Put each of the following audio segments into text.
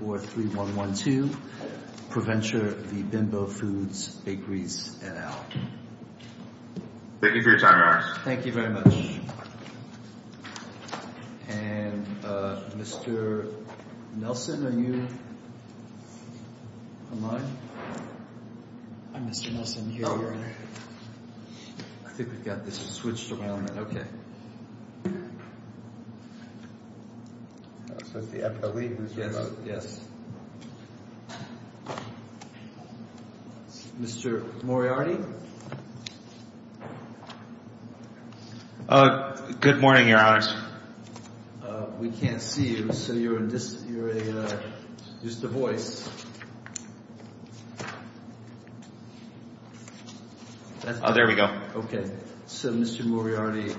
Thank you for your time, Ross. Thank you very much. And Mr. Nelson, are you online? Hi, Mr. Nelson. Here you are. I think we've got this switched around. Okay. Mr. Moriarty? Good morning, Your Honors. We can't see you, so you're just a voice. There we go. Okay. So, Mr. Moriarty,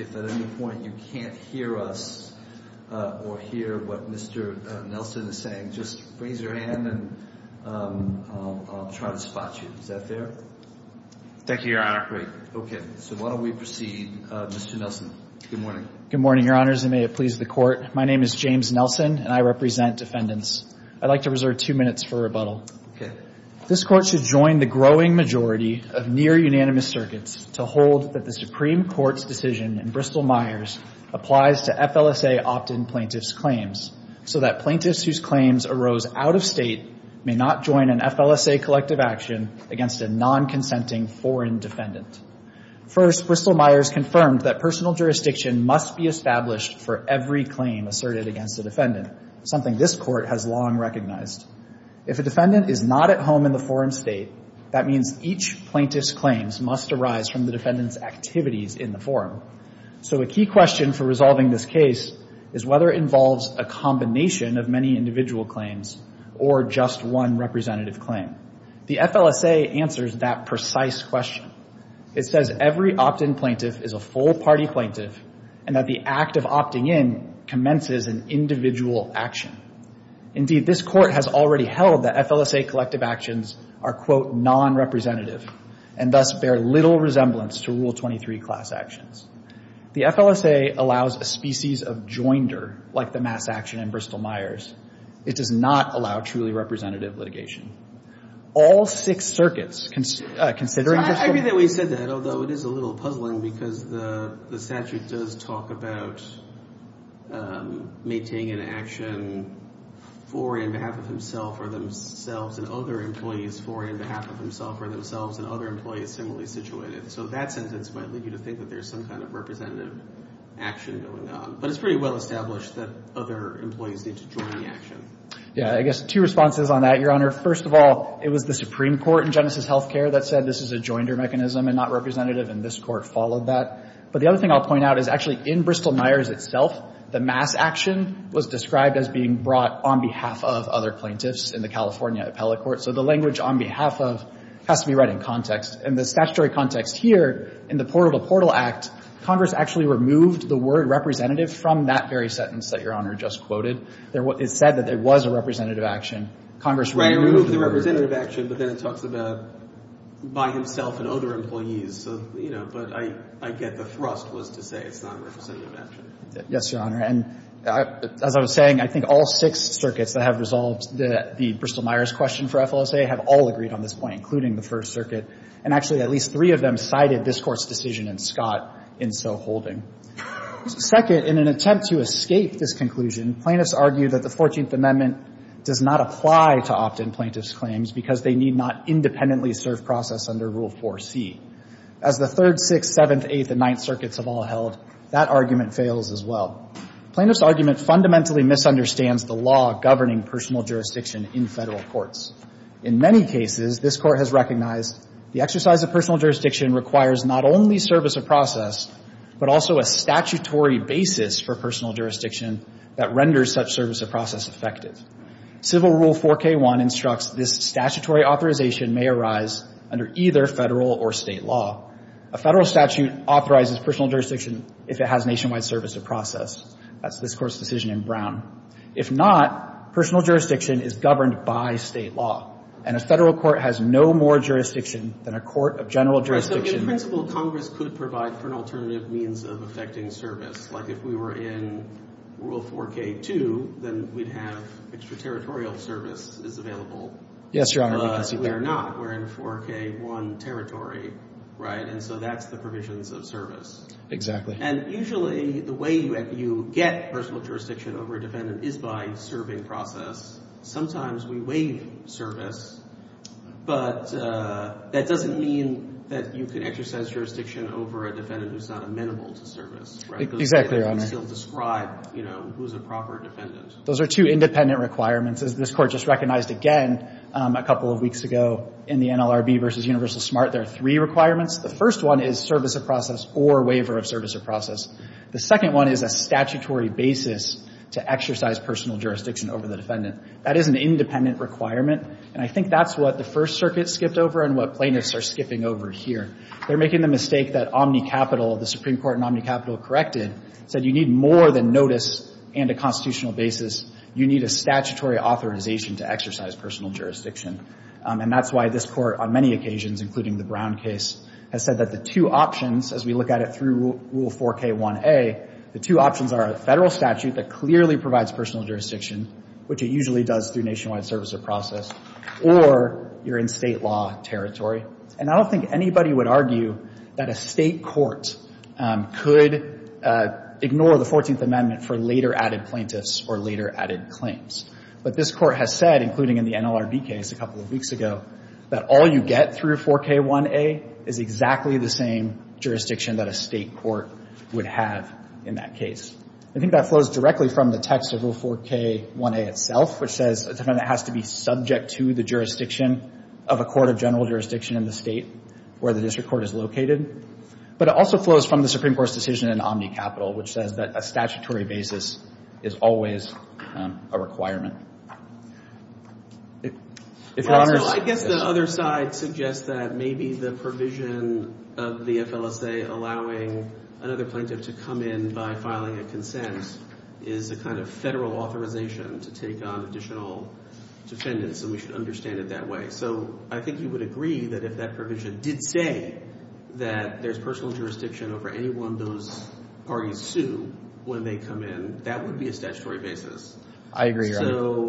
if at any point you can't hear us or hear what Mr. Nelson is saying, just raise your hand and I'll try to spot you. Is that fair? Thank you, Your Honor. Great. Okay. So why don't we proceed. Mr. Nelson, good morning. Good morning, Your Honors, and may it please the Court. My name is James Nelson, and I represent defendants. I'd like to reserve two minutes for rebuttal. Okay. This Court should join the growing majority of near-unanimous circuits to hold that the Supreme Court's decision in Bristol-Myers applies to FLSA opt-in plaintiff's claims, so that plaintiffs whose claims arose out of state may not join an FLSA collective action against a non-consenting foreign defendant. First, Bristol-Myers confirmed that personal jurisdiction must be established for every claim asserted against a defendant, something this Court has long recognized. If a defendant is not at home in the foreign state, that means each plaintiff's claims must arise from the defendant's activities in the forum. So a key question for resolving this case is whether it involves a combination of many individual claims or just one representative claim. The FLSA answers that precise question. It says every opt-in plaintiff is a full-party plaintiff and that the act of opting in commences an individual action. Indeed, this Court has already held that FLSA collective actions are, quote, non-representative and thus bear little resemblance to Rule 23 class actions. The FLSA allows a species of joinder like the mass action in Bristol-Myers. It does not allow truly representative litigation. All six circuits, considering Bristol- Yeah, I guess two responses on that, Your Honor. First of all, it was the Supreme Court in Genesis Health Care that said this is a joinder mechanism and not representative, and this Court followed that. But the other thing I'll point out is actually in Bristol-Myers itself, the mass action was described as being brought on behalf of other plaintiffs in the California appellate court. So the language on behalf of has to be read in context. In the statutory context here, in the Portal to Portal Act, Congress actually removed the word representative from that very sentence that Your Honor just quoted. It said that it was a representative action. Congress removed the word. Right, it removed the representative action, but then it talks about by himself and other employees. So, you know, but I get the thrust was to say it's not representative action. Yes, Your Honor. And as I was saying, I think all six circuits that have resolved the Bristol-Myers question for FLSA have all agreed on this point, including the First Circuit. And actually, at least three of them cited this Court's decision in Scott in so holding. Second, in an attempt to escape this conclusion, plaintiffs argue that the Fourteenth Amendment does not apply to opt-in plaintiffs' claims because they need not independently serve process under Rule 4C. As the Third, Sixth, Seventh, Eighth, and Ninth Circuits have all held, that argument fails as well. Plaintiffs' argument fundamentally misunderstands the law governing personal jurisdiction in federal courts. In many cases, this Court has recognized the exercise of personal jurisdiction requires not only service of process, but also a statutory basis for personal jurisdiction that renders such service of process effective. Civil Rule 4K1 instructs this statutory authorization may arise under either federal or state law. A federal statute authorizes personal jurisdiction if it has nationwide service of process. That's this Court's decision in Brown. If not, personal jurisdiction is governed by state law. And a federal court has no more jurisdiction than a court of general jurisdiction. So in principle, Congress could provide for an alternative means of effecting service. Like if we were in Rule 4K2, then we'd have extraterritorial service is available. Yes, Your Honor. We can see that. But we're not. We're in 4K1 territory, right? And so that's the provisions of service. Exactly. And usually the way you get personal jurisdiction over a defendant is by serving process. Sometimes we waive service, but that doesn't mean that you can exercise jurisdiction over a defendant who's not amenable to service, right? Exactly, Your Honor. You can still describe, you know, who's a proper defendant. Those are two independent requirements. As this Court just recognized again a couple of weeks ago in the NLRB v. Universal Smart, there are three requirements. The first one is service of process or waiver of service of process. The second one is a statutory basis to exercise personal jurisdiction over the defendant. That is an independent requirement, and I think that's what the First Circuit skipped over and what plaintiffs are skipping over here. They're making the mistake that OmniCapital, the Supreme Court in OmniCapital corrected, said you need more than notice and a constitutional basis. You need a statutory authorization to exercise personal jurisdiction. And that's why this Court on many occasions, including the Brown case, has said that the two options as we look at it through Rule 4K1A, the two options are a federal statute that clearly provides personal jurisdiction, which it usually does through nationwide service of process, or you're in state law territory. And I don't think anybody would argue that a state court could ignore the 14th Amendment for later added plaintiffs or later added claims. But this Court has said, including in the NLRB case a couple of weeks ago, that all you get through 4K1A is exactly the same jurisdiction that a state court would have in that case. I think that flows directly from the text of Rule 4K1A itself, which says a defendant has to be subject to the jurisdiction of a court of general jurisdiction in the state where the district court is located. But it also flows from the Supreme Court's decision in OmniCapital, which says that a statutory basis is always a requirement. If Your Honor is... So I guess the other side suggests that maybe the provision of the FLSA allowing another plaintiff to come in by filing a consent is a kind of Federal authorization to take on additional defendants, and we should understand it that way. So I think you would agree that if that provision did say that there's personal jurisdiction over anyone those parties sue when they come in, that would be a statutory basis. I agree, Your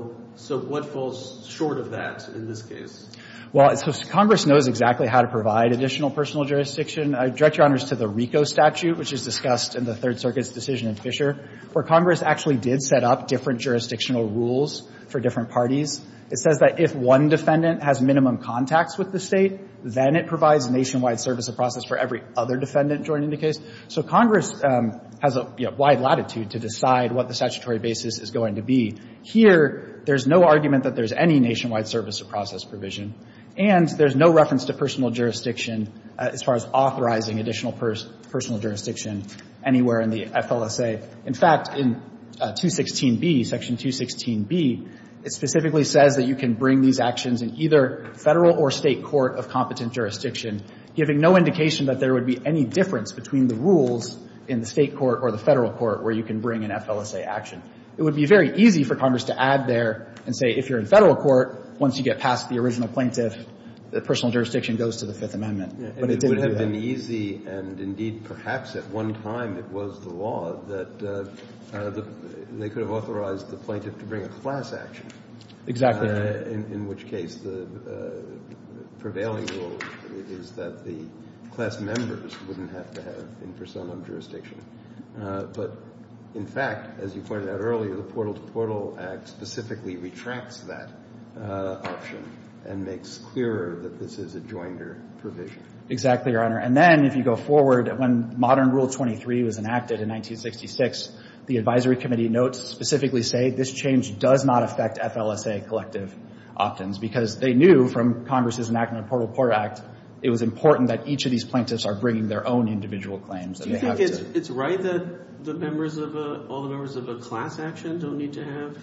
Honor. So what falls short of that in this case? Well, so Congress knows exactly how to provide additional personal jurisdiction. I direct Your Honors to the RICO statute, which is discussed in the Third Circuit's decision in Fisher, where Congress actually did set up different jurisdictional rules for different parties. It says that if one defendant has minimum contacts with the state, then it provides nationwide service of process for every other defendant joining the case. So Congress has a, you know, wide latitude to decide what the statutory basis is going to be. Here, there's no argument that there's any nationwide service of process provision, and there's no reference to personal jurisdiction as far as authorizing additional personal jurisdiction anywhere in the FLSA. In fact, in 216B, Section 216B, it specifically says that you can bring these actions in either Federal or State court of competent jurisdiction, giving no indication that there would be any difference between the rules in the State court or the Federal court where you can bring an FLSA action. It would be very easy for Congress to add there and say, if you're in Federal court, once you get past the original plaintiff, personal jurisdiction goes to the Fifth Amendment. But it didn't do that. And it would have been easy, and indeed perhaps at one time it was the law, that they could have authorized the plaintiff to bring a class action. Exactly. In which case the prevailing rule is that the class members wouldn't have to have impersonal jurisdiction. But in fact, as you pointed out earlier, the Portal to Portal Act specifically retracts that option and makes clearer that this is a joinder provision. Exactly, Your Honor. And then if you go forward, when modern Rule 23 was enacted in 1966, the advisory committee notes specifically say, this change does not affect FLSA collective opt-ins, because they knew from Congress's enactment of the Portal to Portal Act, it was important that each of these plaintiffs are bringing their own individual claims. Do you think it's right that all the members of a class action don't need to have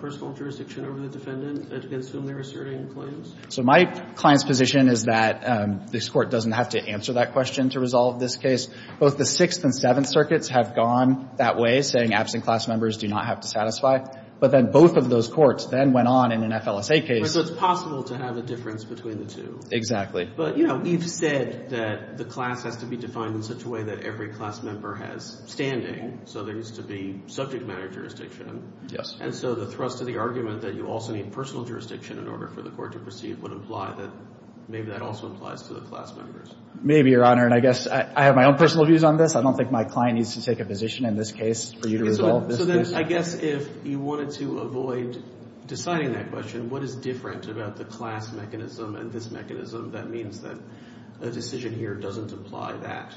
personal jurisdiction over the defendant against whom they're asserting claims? So my client's position is that this Court doesn't have to answer that question to resolve this case. Both the Sixth and Seventh Circuits have gone that way, saying absent class members do not have to satisfy. But then both of those courts then went on in an FLSA case. Right, so it's possible to have a difference between the two. Exactly. But, you know, we've said that the class has to be defined in such a way that every class member has standing. So there needs to be subject matter jurisdiction. Yes. And so the thrust of the argument that you also need personal jurisdiction in order for the Court to proceed would imply that maybe that also applies to the class members. Maybe, Your Honor. And I guess I have my own personal views on this. I don't think my client needs to take a position in this case for you to resolve this case. So then I guess if you wanted to avoid deciding that question, what is different about the class mechanism and this mechanism that means that a decision here doesn't apply to that?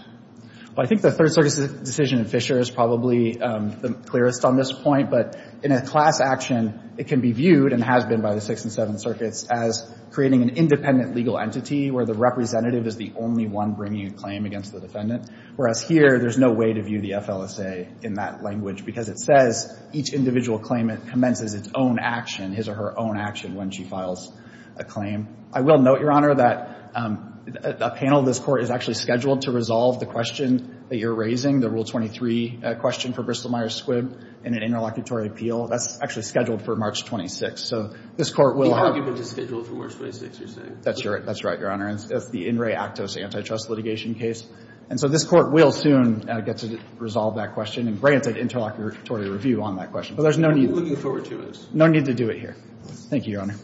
Well, I think the Third Circuit's decision in Fisher is probably the clearest on this point. But in a class action, it can be viewed and has been by the Sixth and Seventh Circuits as creating an independent legal entity where the representative is the only one bringing a claim against the defendant, whereas here there's no way to view the FLSA in that language because it says each individual claimant commences its own action, his or her own action when she files a claim. I will note, Your Honor, that a panel of this Court is actually scheduled to resolve the question that you're raising, the Rule 23 question for Bristol-Myers Squibb in an interlocutory appeal. That's actually scheduled for March 26. So this Court will have— The argument is scheduled for March 26, you're saying? That's right, Your Honor. That's the In Re Actos antitrust litigation case. And so this Court will soon get to resolve that question and grant an interlocutory review on that question. But there's no need— I'm looking forward to it. No need to do it here. Thank you, Your Honor.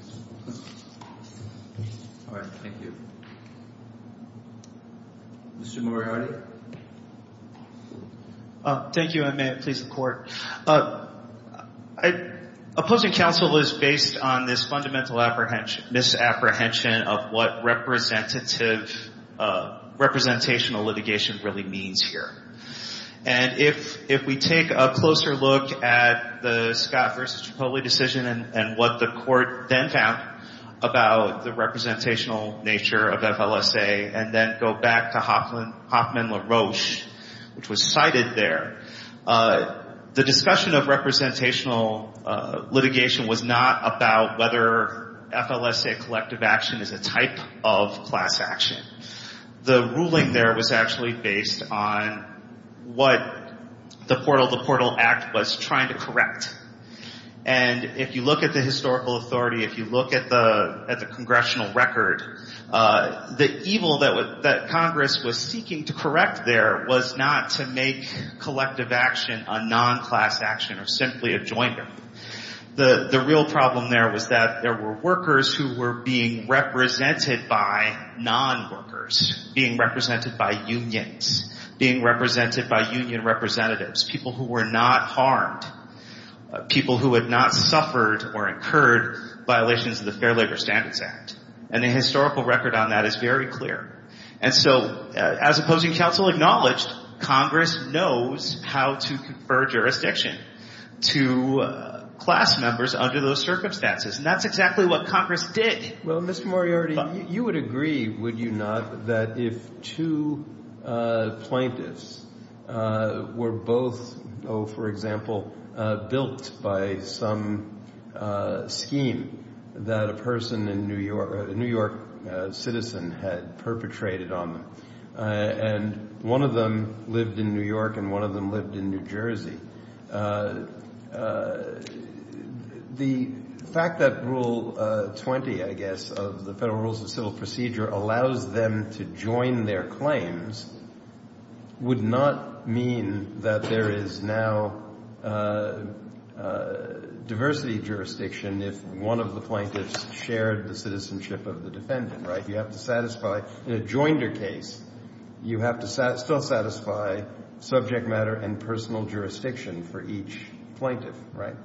All right. Thank you. Mr. Moriarty? Thank you, and may it please the Court. Opposing counsel is based on this fundamental misapprehension of what representative—representational litigation really means here. And if we take a closer look at the Scott v. Cipolli decision and what the Court then found about the representational nature of FLSA and then go back to Hoffman LaRoche, which was cited there, the discussion of representational litigation was not about whether FLSA collective action is a type of class action. The ruling there was actually based on what the Portal to Portal Act was trying to correct. And if you look at the historical authority, if you look at the congressional record, the evil that Congress was seeking to correct there was not to make collective action a non-class action or simply a joined-up. The real problem there was that there were workers who were being represented by non-workers, being represented by unions, being represented by union representatives, people who were not harmed, people who had not suffered or incurred violations of the Fair Labor Standards Act. And the historical record on that is very clear. And so as opposing counsel acknowledged, Congress knows how to confer jurisdiction to class members under those circumstances. And that's exactly what Congress did. Well, Mr. Moriarty, you would agree, would you not, that if two plaintiffs were both, oh, for example, built by some scheme that a person in New York, a New York citizen had perpetrated on them, and one of them lived in New York and one of them lived in New Jersey, the fact that Rule 20, I guess, of the Federal Rules of Civil Procedure, allows them to join their claims would not mean that there is now diversity jurisdiction if one of the plaintiffs shared the citizenship of the defendant, right? You have to satisfy, in a joinder case, you have to still satisfy subject matter and personal jurisdiction for each plaintiff, right?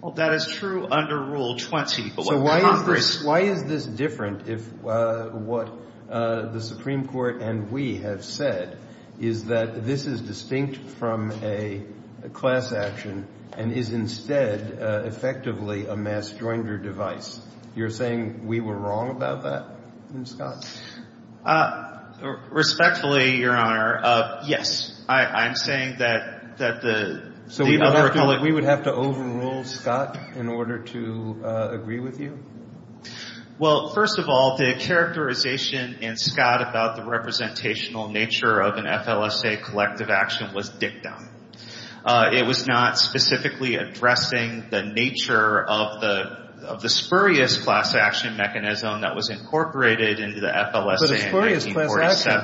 Well, that is true under Rule 20. So why is this different if what the Supreme Court and we have said is that this is distinct from a class action and is instead effectively a mass joinder device? You're saying we were wrong about that in Scott? Respectfully, Your Honor, yes. I'm saying that the other public— Well, first of all, the characterization in Scott about the representational nature of an FLSA collective action was dick-dumb. It was not specifically addressing the nature of the spurious class action mechanism that was incorporated into the FLSA in 1947.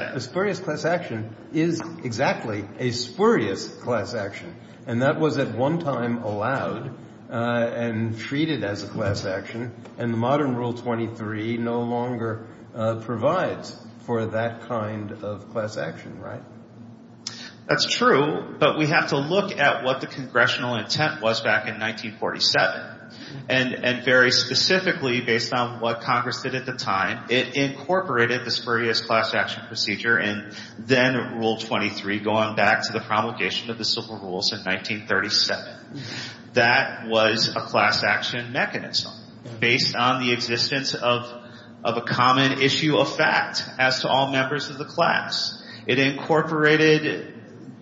But a spurious class action is exactly a spurious class action, and that was at one time allowed and treated as a class action, and the modern Rule 23 no longer provides for that kind of class action, right? That's true, but we have to look at what the congressional intent was back in 1947, and very specifically, based on what Congress did at the time, it incorporated the spurious class action procedure and then Rule 23 going back to the promulgation of the Civil Rules in 1937. That was a class action mechanism based on the existence of a common issue of fact as to all members of the class. It incorporated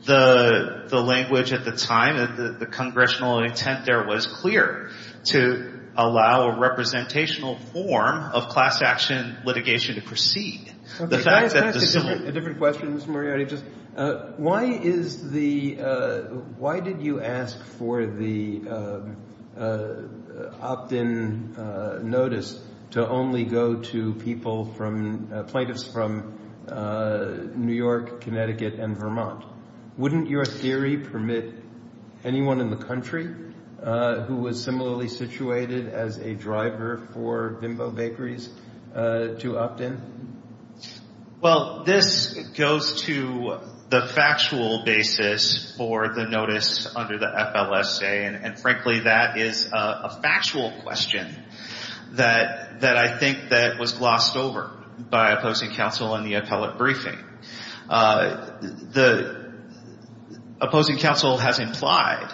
the language at the time, the congressional intent there was clear to allow a representational form of class action litigation to proceed. Can I ask a different question, Mr. Moriarty? Why did you ask for the opt-in notice to only go to plaintiffs from New York, Connecticut, and Vermont? Wouldn't your theory permit anyone in the country who was similarly situated as a driver for Bimbo Bakeries to opt in? Well, this goes to the factual basis for the notice under the FLSA, and frankly, that is a factual question that I think that was glossed over by opposing counsel in the appellate briefing. The opposing counsel has implied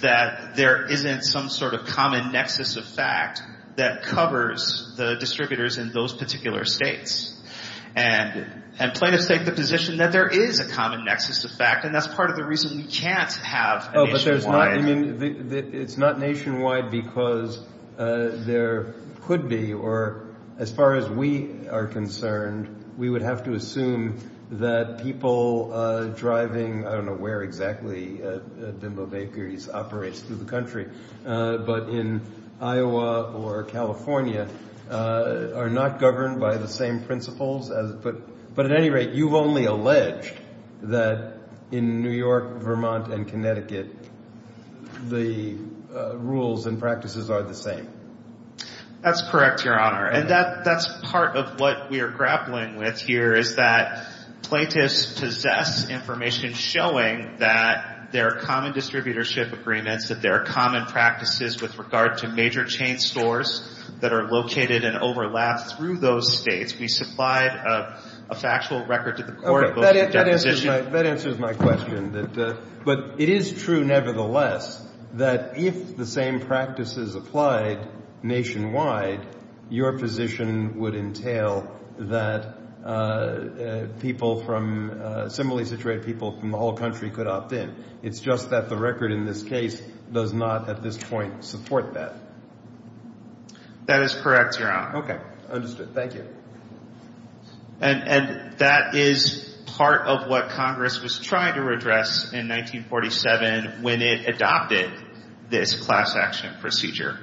that there isn't some sort of common nexus of fact that covers the distributors in those particular states, and plaintiffs take the position that there is a common nexus of fact, and that's part of the reason we can't have a nationwide. But it's not nationwide because there could be, or as far as we are concerned, we would have to assume that people driving, I don't know where exactly Bimbo Bakeries operates through the country, but in Iowa or California, are not governed by the same principles. But at any rate, you've only alleged that in New York, Vermont, and Connecticut, the rules and practices are the same. That's correct, Your Honor, and that's part of what we are grappling with here is that plaintiffs possess information showing that there are common distributorship agreements, that there are common practices with regard to major chain stores that are located and overlap through those states. We supplied a factual record to the court. That answers my question. But it is true, nevertheless, that if the same practices applied nationwide, your position would entail that people from, similarly situated people from the whole country could opt in. It's just that the record in this case does not at this point support that. That is correct, Your Honor. Okay, understood. Thank you. And that is part of what Congress was trying to address in 1947 when it adopted this class action procedure.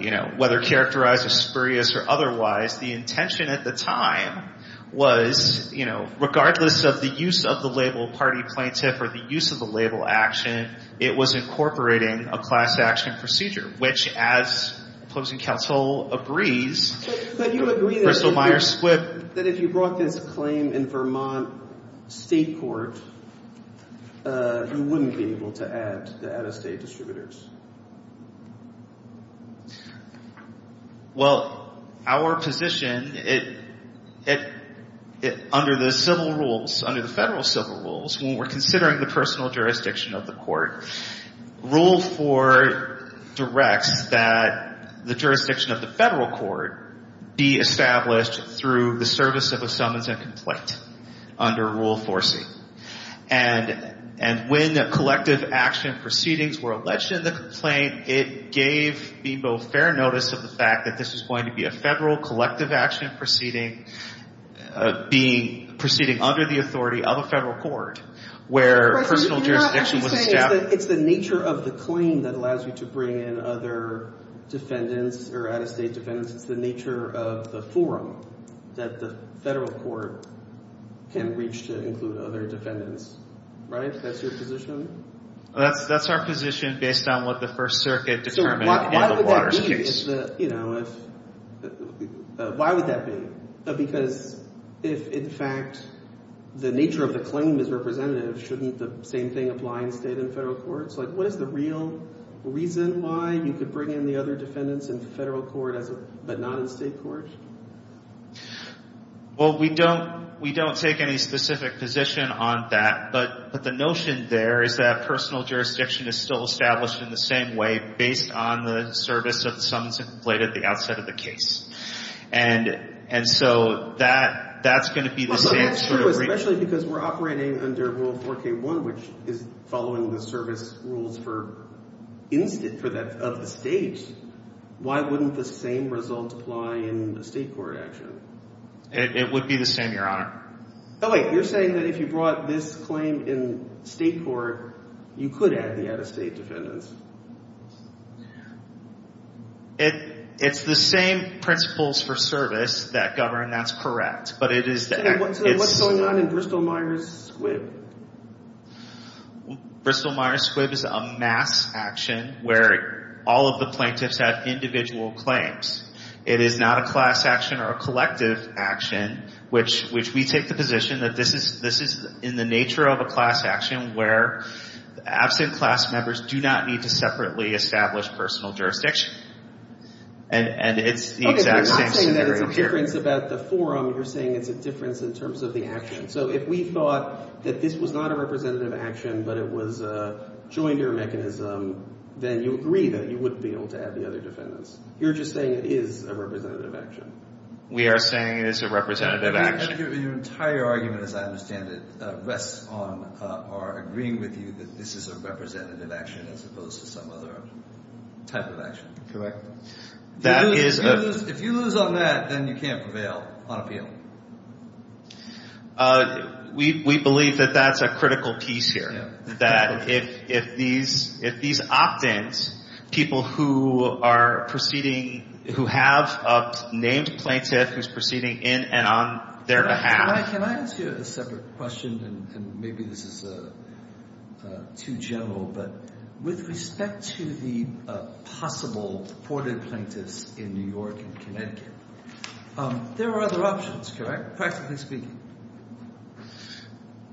You know, whether characterized as spurious or otherwise, the intention at the time was, you know, regardless of the use of the label party plaintiff or the use of the label action, it was incorporating a class action procedure, which, as opposing counsel agrees, But you agree that if you brought this claim in Vermont State Court, you wouldn't be able to add the out-of-state distributors. Well, our position, under the civil rules, under the federal civil rules, when we're considering the personal jurisdiction of the court, Rule 4 directs that the jurisdiction of the federal court be established through the service of a summons and complaint under Rule 4C. And when the collective action proceedings were alleged in this case, under the complaint, it gave people fair notice of the fact that this was going to be a federal collective action proceeding proceeding under the authority of a federal court where personal jurisdiction was established. It's the nature of the claim that allows you to bring in other defendants or out-of-state defendants. It's the nature of the forum that the federal court can reach to include other defendants, right? That's your position? That's our position based on what the First Circuit determined in the Waters case. Why would that be? Because if, in fact, the nature of the claim is representative, shouldn't the same thing apply in state and federal courts? What is the real reason why you could bring in the other defendants in federal court but not in state court? Well, we don't take any specific position on that. But the notion there is that personal jurisdiction is still established in the same way based on the service of the summons and complaint at the outset of the case. And so that's going to be the same sort of reason. Especially because we're operating under Rule 4K1, which is following the service rules of the state. Why wouldn't the same result apply in a state court action? It would be the same, Your Honor. Oh, wait, you're saying that if you brought this claim in state court, you could add the out-of-state defendants. It's the same principles for service that govern. That's correct. So what's going on in Bristol-Myers Squibb? Bristol-Myers Squibb is a mass action where all of the plaintiffs have individual claims. It is not a class action or a collective action, which we take the position that this is in the nature of a class action where absent class members do not need to separately establish personal jurisdiction. And it's the exact same scenario here. Okay, you're not saying that it's a difference about the forum. You're saying it's a difference in terms of the action. So if we thought that this was not a representative action but it was a jointer mechanism, then you agree that you wouldn't be able to add the other defendants. You're just saying it is a representative action. We are saying it is a representative action. Your entire argument, as I understand it, rests on our agreeing with you that this is a representative action as opposed to some other type of action. Correct. If you lose on that, then you can't prevail on appeal. We believe that that's a critical piece here, that if these opt-ins, people who are proceeding, who have a named plaintiff who's proceeding in and on their behalf. Can I ask you a separate question? And maybe this is too general, but with respect to the possible deported plaintiffs in New York and Connecticut, there are other options, correct, practically speaking?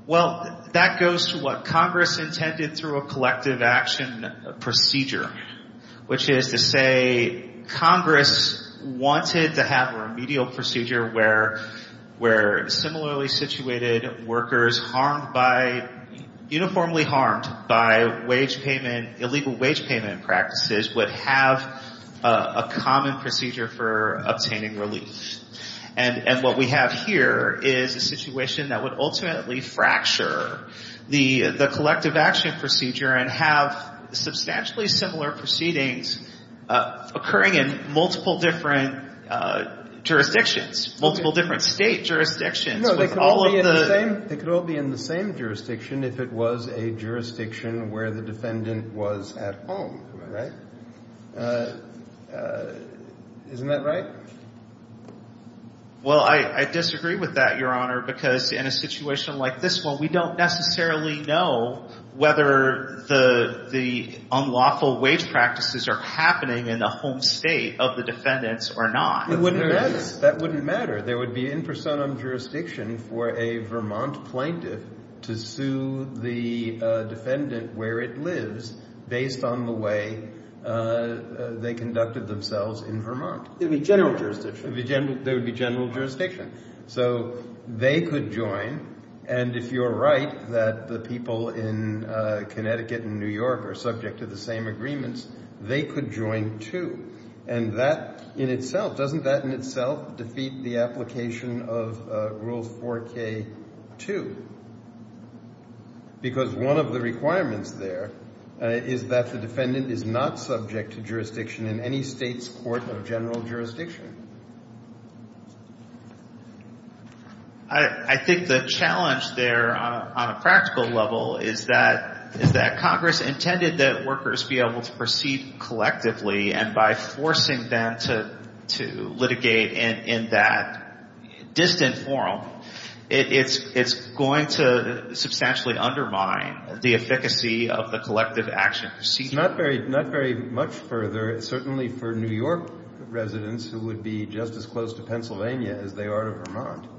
Well, that goes to what Congress intended through a collective action procedure, which is to say Congress wanted to have a remedial procedure where similarly situated workers, uniformly harmed by illegal wage payment practices, would have a common procedure for obtaining relief. And what we have here is a situation that would ultimately fracture the collective action procedure and have substantially similar proceedings occurring in multiple different jurisdictions, multiple different state jurisdictions. They could all be in the same jurisdiction if it was a jurisdiction where the defendant was at home, right? Isn't that right? Well, I disagree with that, Your Honor, because in a situation like this one, we don't necessarily know whether the unlawful wage practices are happening in the home state of the defendants or not. That wouldn't matter. There would be in personam jurisdiction for a Vermont plaintiff to sue the defendant where it lives based on the way they conducted themselves in Vermont. It would be general jurisdiction. It would be general jurisdiction. So they could join, and if you're right, that the people in Connecticut and New York are subject to the same agreements, they could join too. And that in itself, doesn't that in itself defeat the application of Rule 4K2? Because one of the requirements there is that the defendant is not subject to jurisdiction in any state's court of general jurisdiction. I think the challenge there on a practical level is that Congress intended that workers be able to proceed collectively, and by forcing them to litigate in that distant forum, it's going to substantially undermine the efficacy of the collective action procedure. It's not very much further, certainly for New York residents who would be just as close to Pennsylvania as they are to Vermont.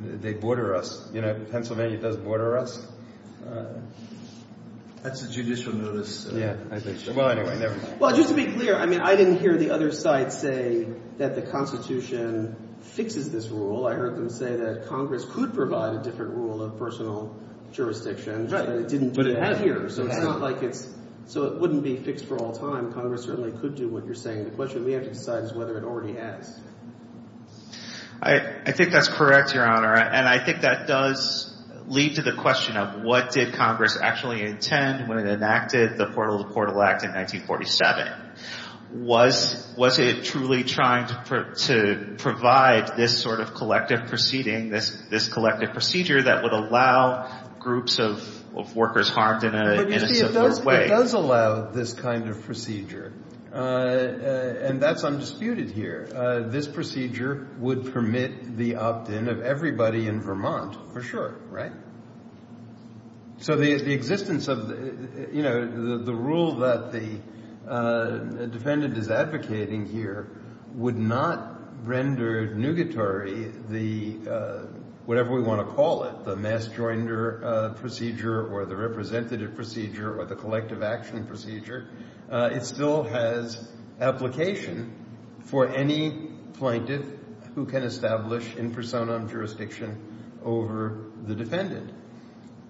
They border us. You know, Pennsylvania does border us. That's a judicial notice. Yeah, I think so. Well, anyway, never mind. Well, just to be clear, I mean, I didn't hear the other side say that the Constitution fixes this rule. I heard them say that Congress could provide a different rule of personal jurisdiction, but it didn't do it here. So it's not like it's... So it wouldn't be fixed for all time. Congress certainly could do what you're saying. The question we have to decide is whether it already has. I think that's correct, Your Honor, and I think that does lead to the question of what did Congress actually intend when it enacted the Portal to Portal Act in 1947. Was it truly trying to provide this sort of collective proceeding, this collective procedure that would allow groups of workers harmed in a simpler way? But you see, it does allow this kind of procedure, and that's undisputed here. This procedure would permit the opt-in of everybody in Vermont, for sure, right? So the existence of, you know, the rule that the defendant is advocating here would not render nugatory the... whatever we want to call it, the mass joinder procedure or the representative procedure or the collective action procedure. It still has application for any plaintiff who can establish in personam jurisdiction over the defendant.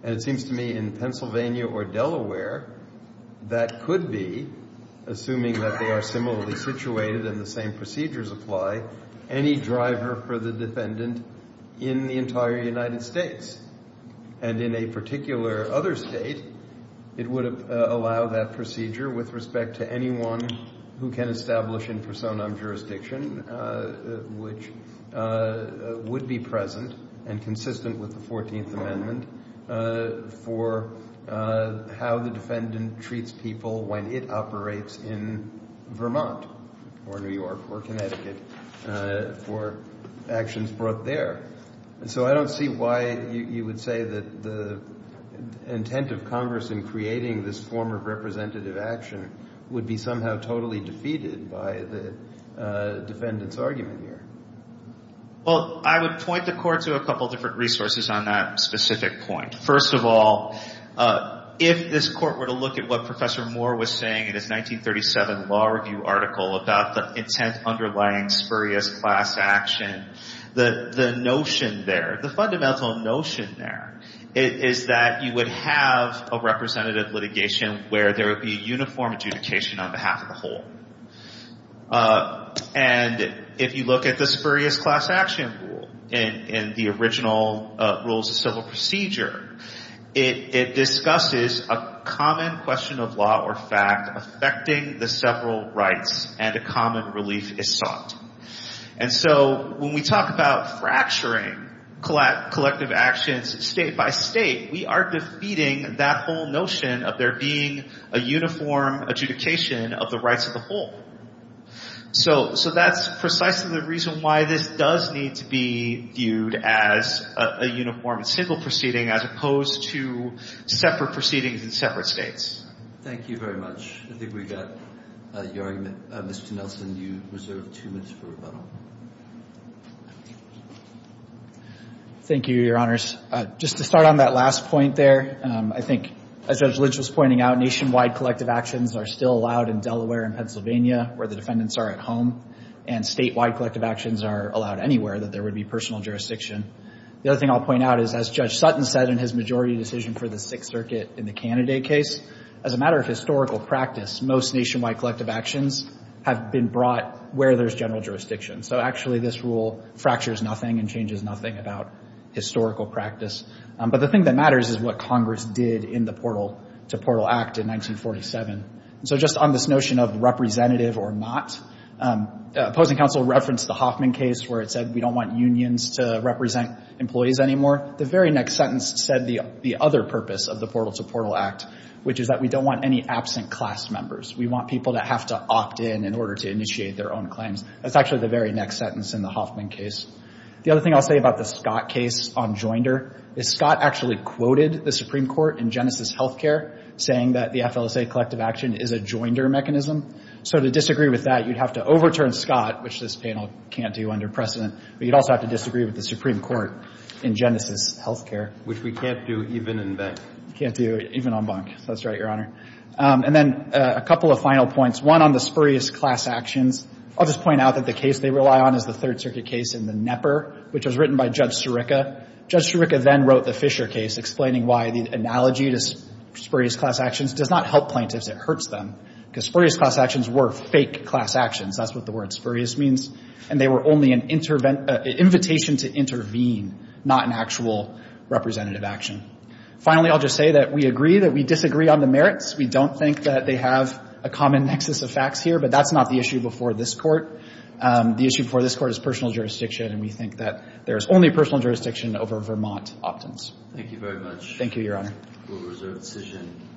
And it seems to me in Pennsylvania or Delaware, that could be, assuming that they are similarly situated and the same procedures apply, any driver for the defendant in the entire United States. And in a particular other state, it would allow that procedure with respect to anyone who can establish in personam jurisdiction, which would be present and consistent with the 14th Amendment for how the defendant treats people when it operates in Vermont or New York or Connecticut for actions brought there. And so I don't see why you would say that the intent of Congress in creating this form of representative action would be somehow totally defeated by the defendant's argument here. Well, I would point the Court to a couple different resources on that specific point. First of all, if this Court were to look at what Professor Moore was saying in his 1937 Law Review article about the intent underlying spurious class action, the notion there, the fundamental notion there, is that you would have a representative litigation where there would be a uniform adjudication on behalf of the whole. And if you look at the spurious class action rule in the original Rules of Civil Procedure, it discusses a common question of law or fact affecting the several rights and a common relief is sought. And so when we talk about fracturing collective actions state by state, we are defeating that whole notion of there being a uniform adjudication of the rights of the whole. So that's precisely the reason why this does need to be viewed as a uniform civil proceeding as opposed to separate proceedings in separate states. Thank you very much. I think we got your argument. Mr. Nelson, you reserve two minutes for rebuttal. Thank you, Your Honors. Just to start on that last point there, I think, as Judge Lynch was pointing out, nationwide collective actions are still allowed in Delaware and Pennsylvania where the defendants are at home, and statewide collective actions are allowed anywhere that there would be personal jurisdiction. The other thing I'll point out is, as Judge Sutton said in his majority decision for the Sixth Circuit in the Candidate case, as a matter of historical practice, most nationwide collective actions have been brought where there's general jurisdiction. So actually, this rule fractures nothing and changes nothing about historical practice. But the thing that matters is what Congress did in the Portal to Portal Act in 1947. So just on this notion of representative or not, opposing counsel referenced the Hoffman case where it said we don't want unions to represent employees anymore. The very next sentence said the other purpose of the Portal to Portal Act, which is that we don't want any absent class members. We want people that have to opt in in order to initiate their own claims. That's actually the very next sentence in the Hoffman case. The other thing I'll say about the Scott case on Joinder is Scott actually quoted the Supreme Court in Genesis Healthcare saying that the FLSA collective action is a Joinder mechanism. So to disagree with that, you'd have to overturn Scott, which this panel can't do under precedent. But you'd also have to disagree with the Supreme Court in Genesis Healthcare. Which we can't do even in Bank. Can't do even on Bank. That's right, Your Honor. And then a couple of final points. One on the spurious class actions. I'll just point out that the case they rely on is the Third Circuit case in the Knepper, which was written by Judge Sirica. Judge Sirica then wrote the Fisher case explaining why the analogy to spurious class actions does not help plaintiffs. It hurts them. Because spurious class actions were fake class actions. That's what the word spurious means. And they were only an invitation to intervene, not an actual representative action. Finally, I'll just say that we agree that we disagree on the merits. We don't think that they have a common nexus of facts here. But that's not the issue before this Court. The issue before this Court is personal jurisdiction. And we think that there is only personal jurisdiction over Vermont opt-ins. Thank you very much. Thank you, Your Honor. Rule of reserve decision.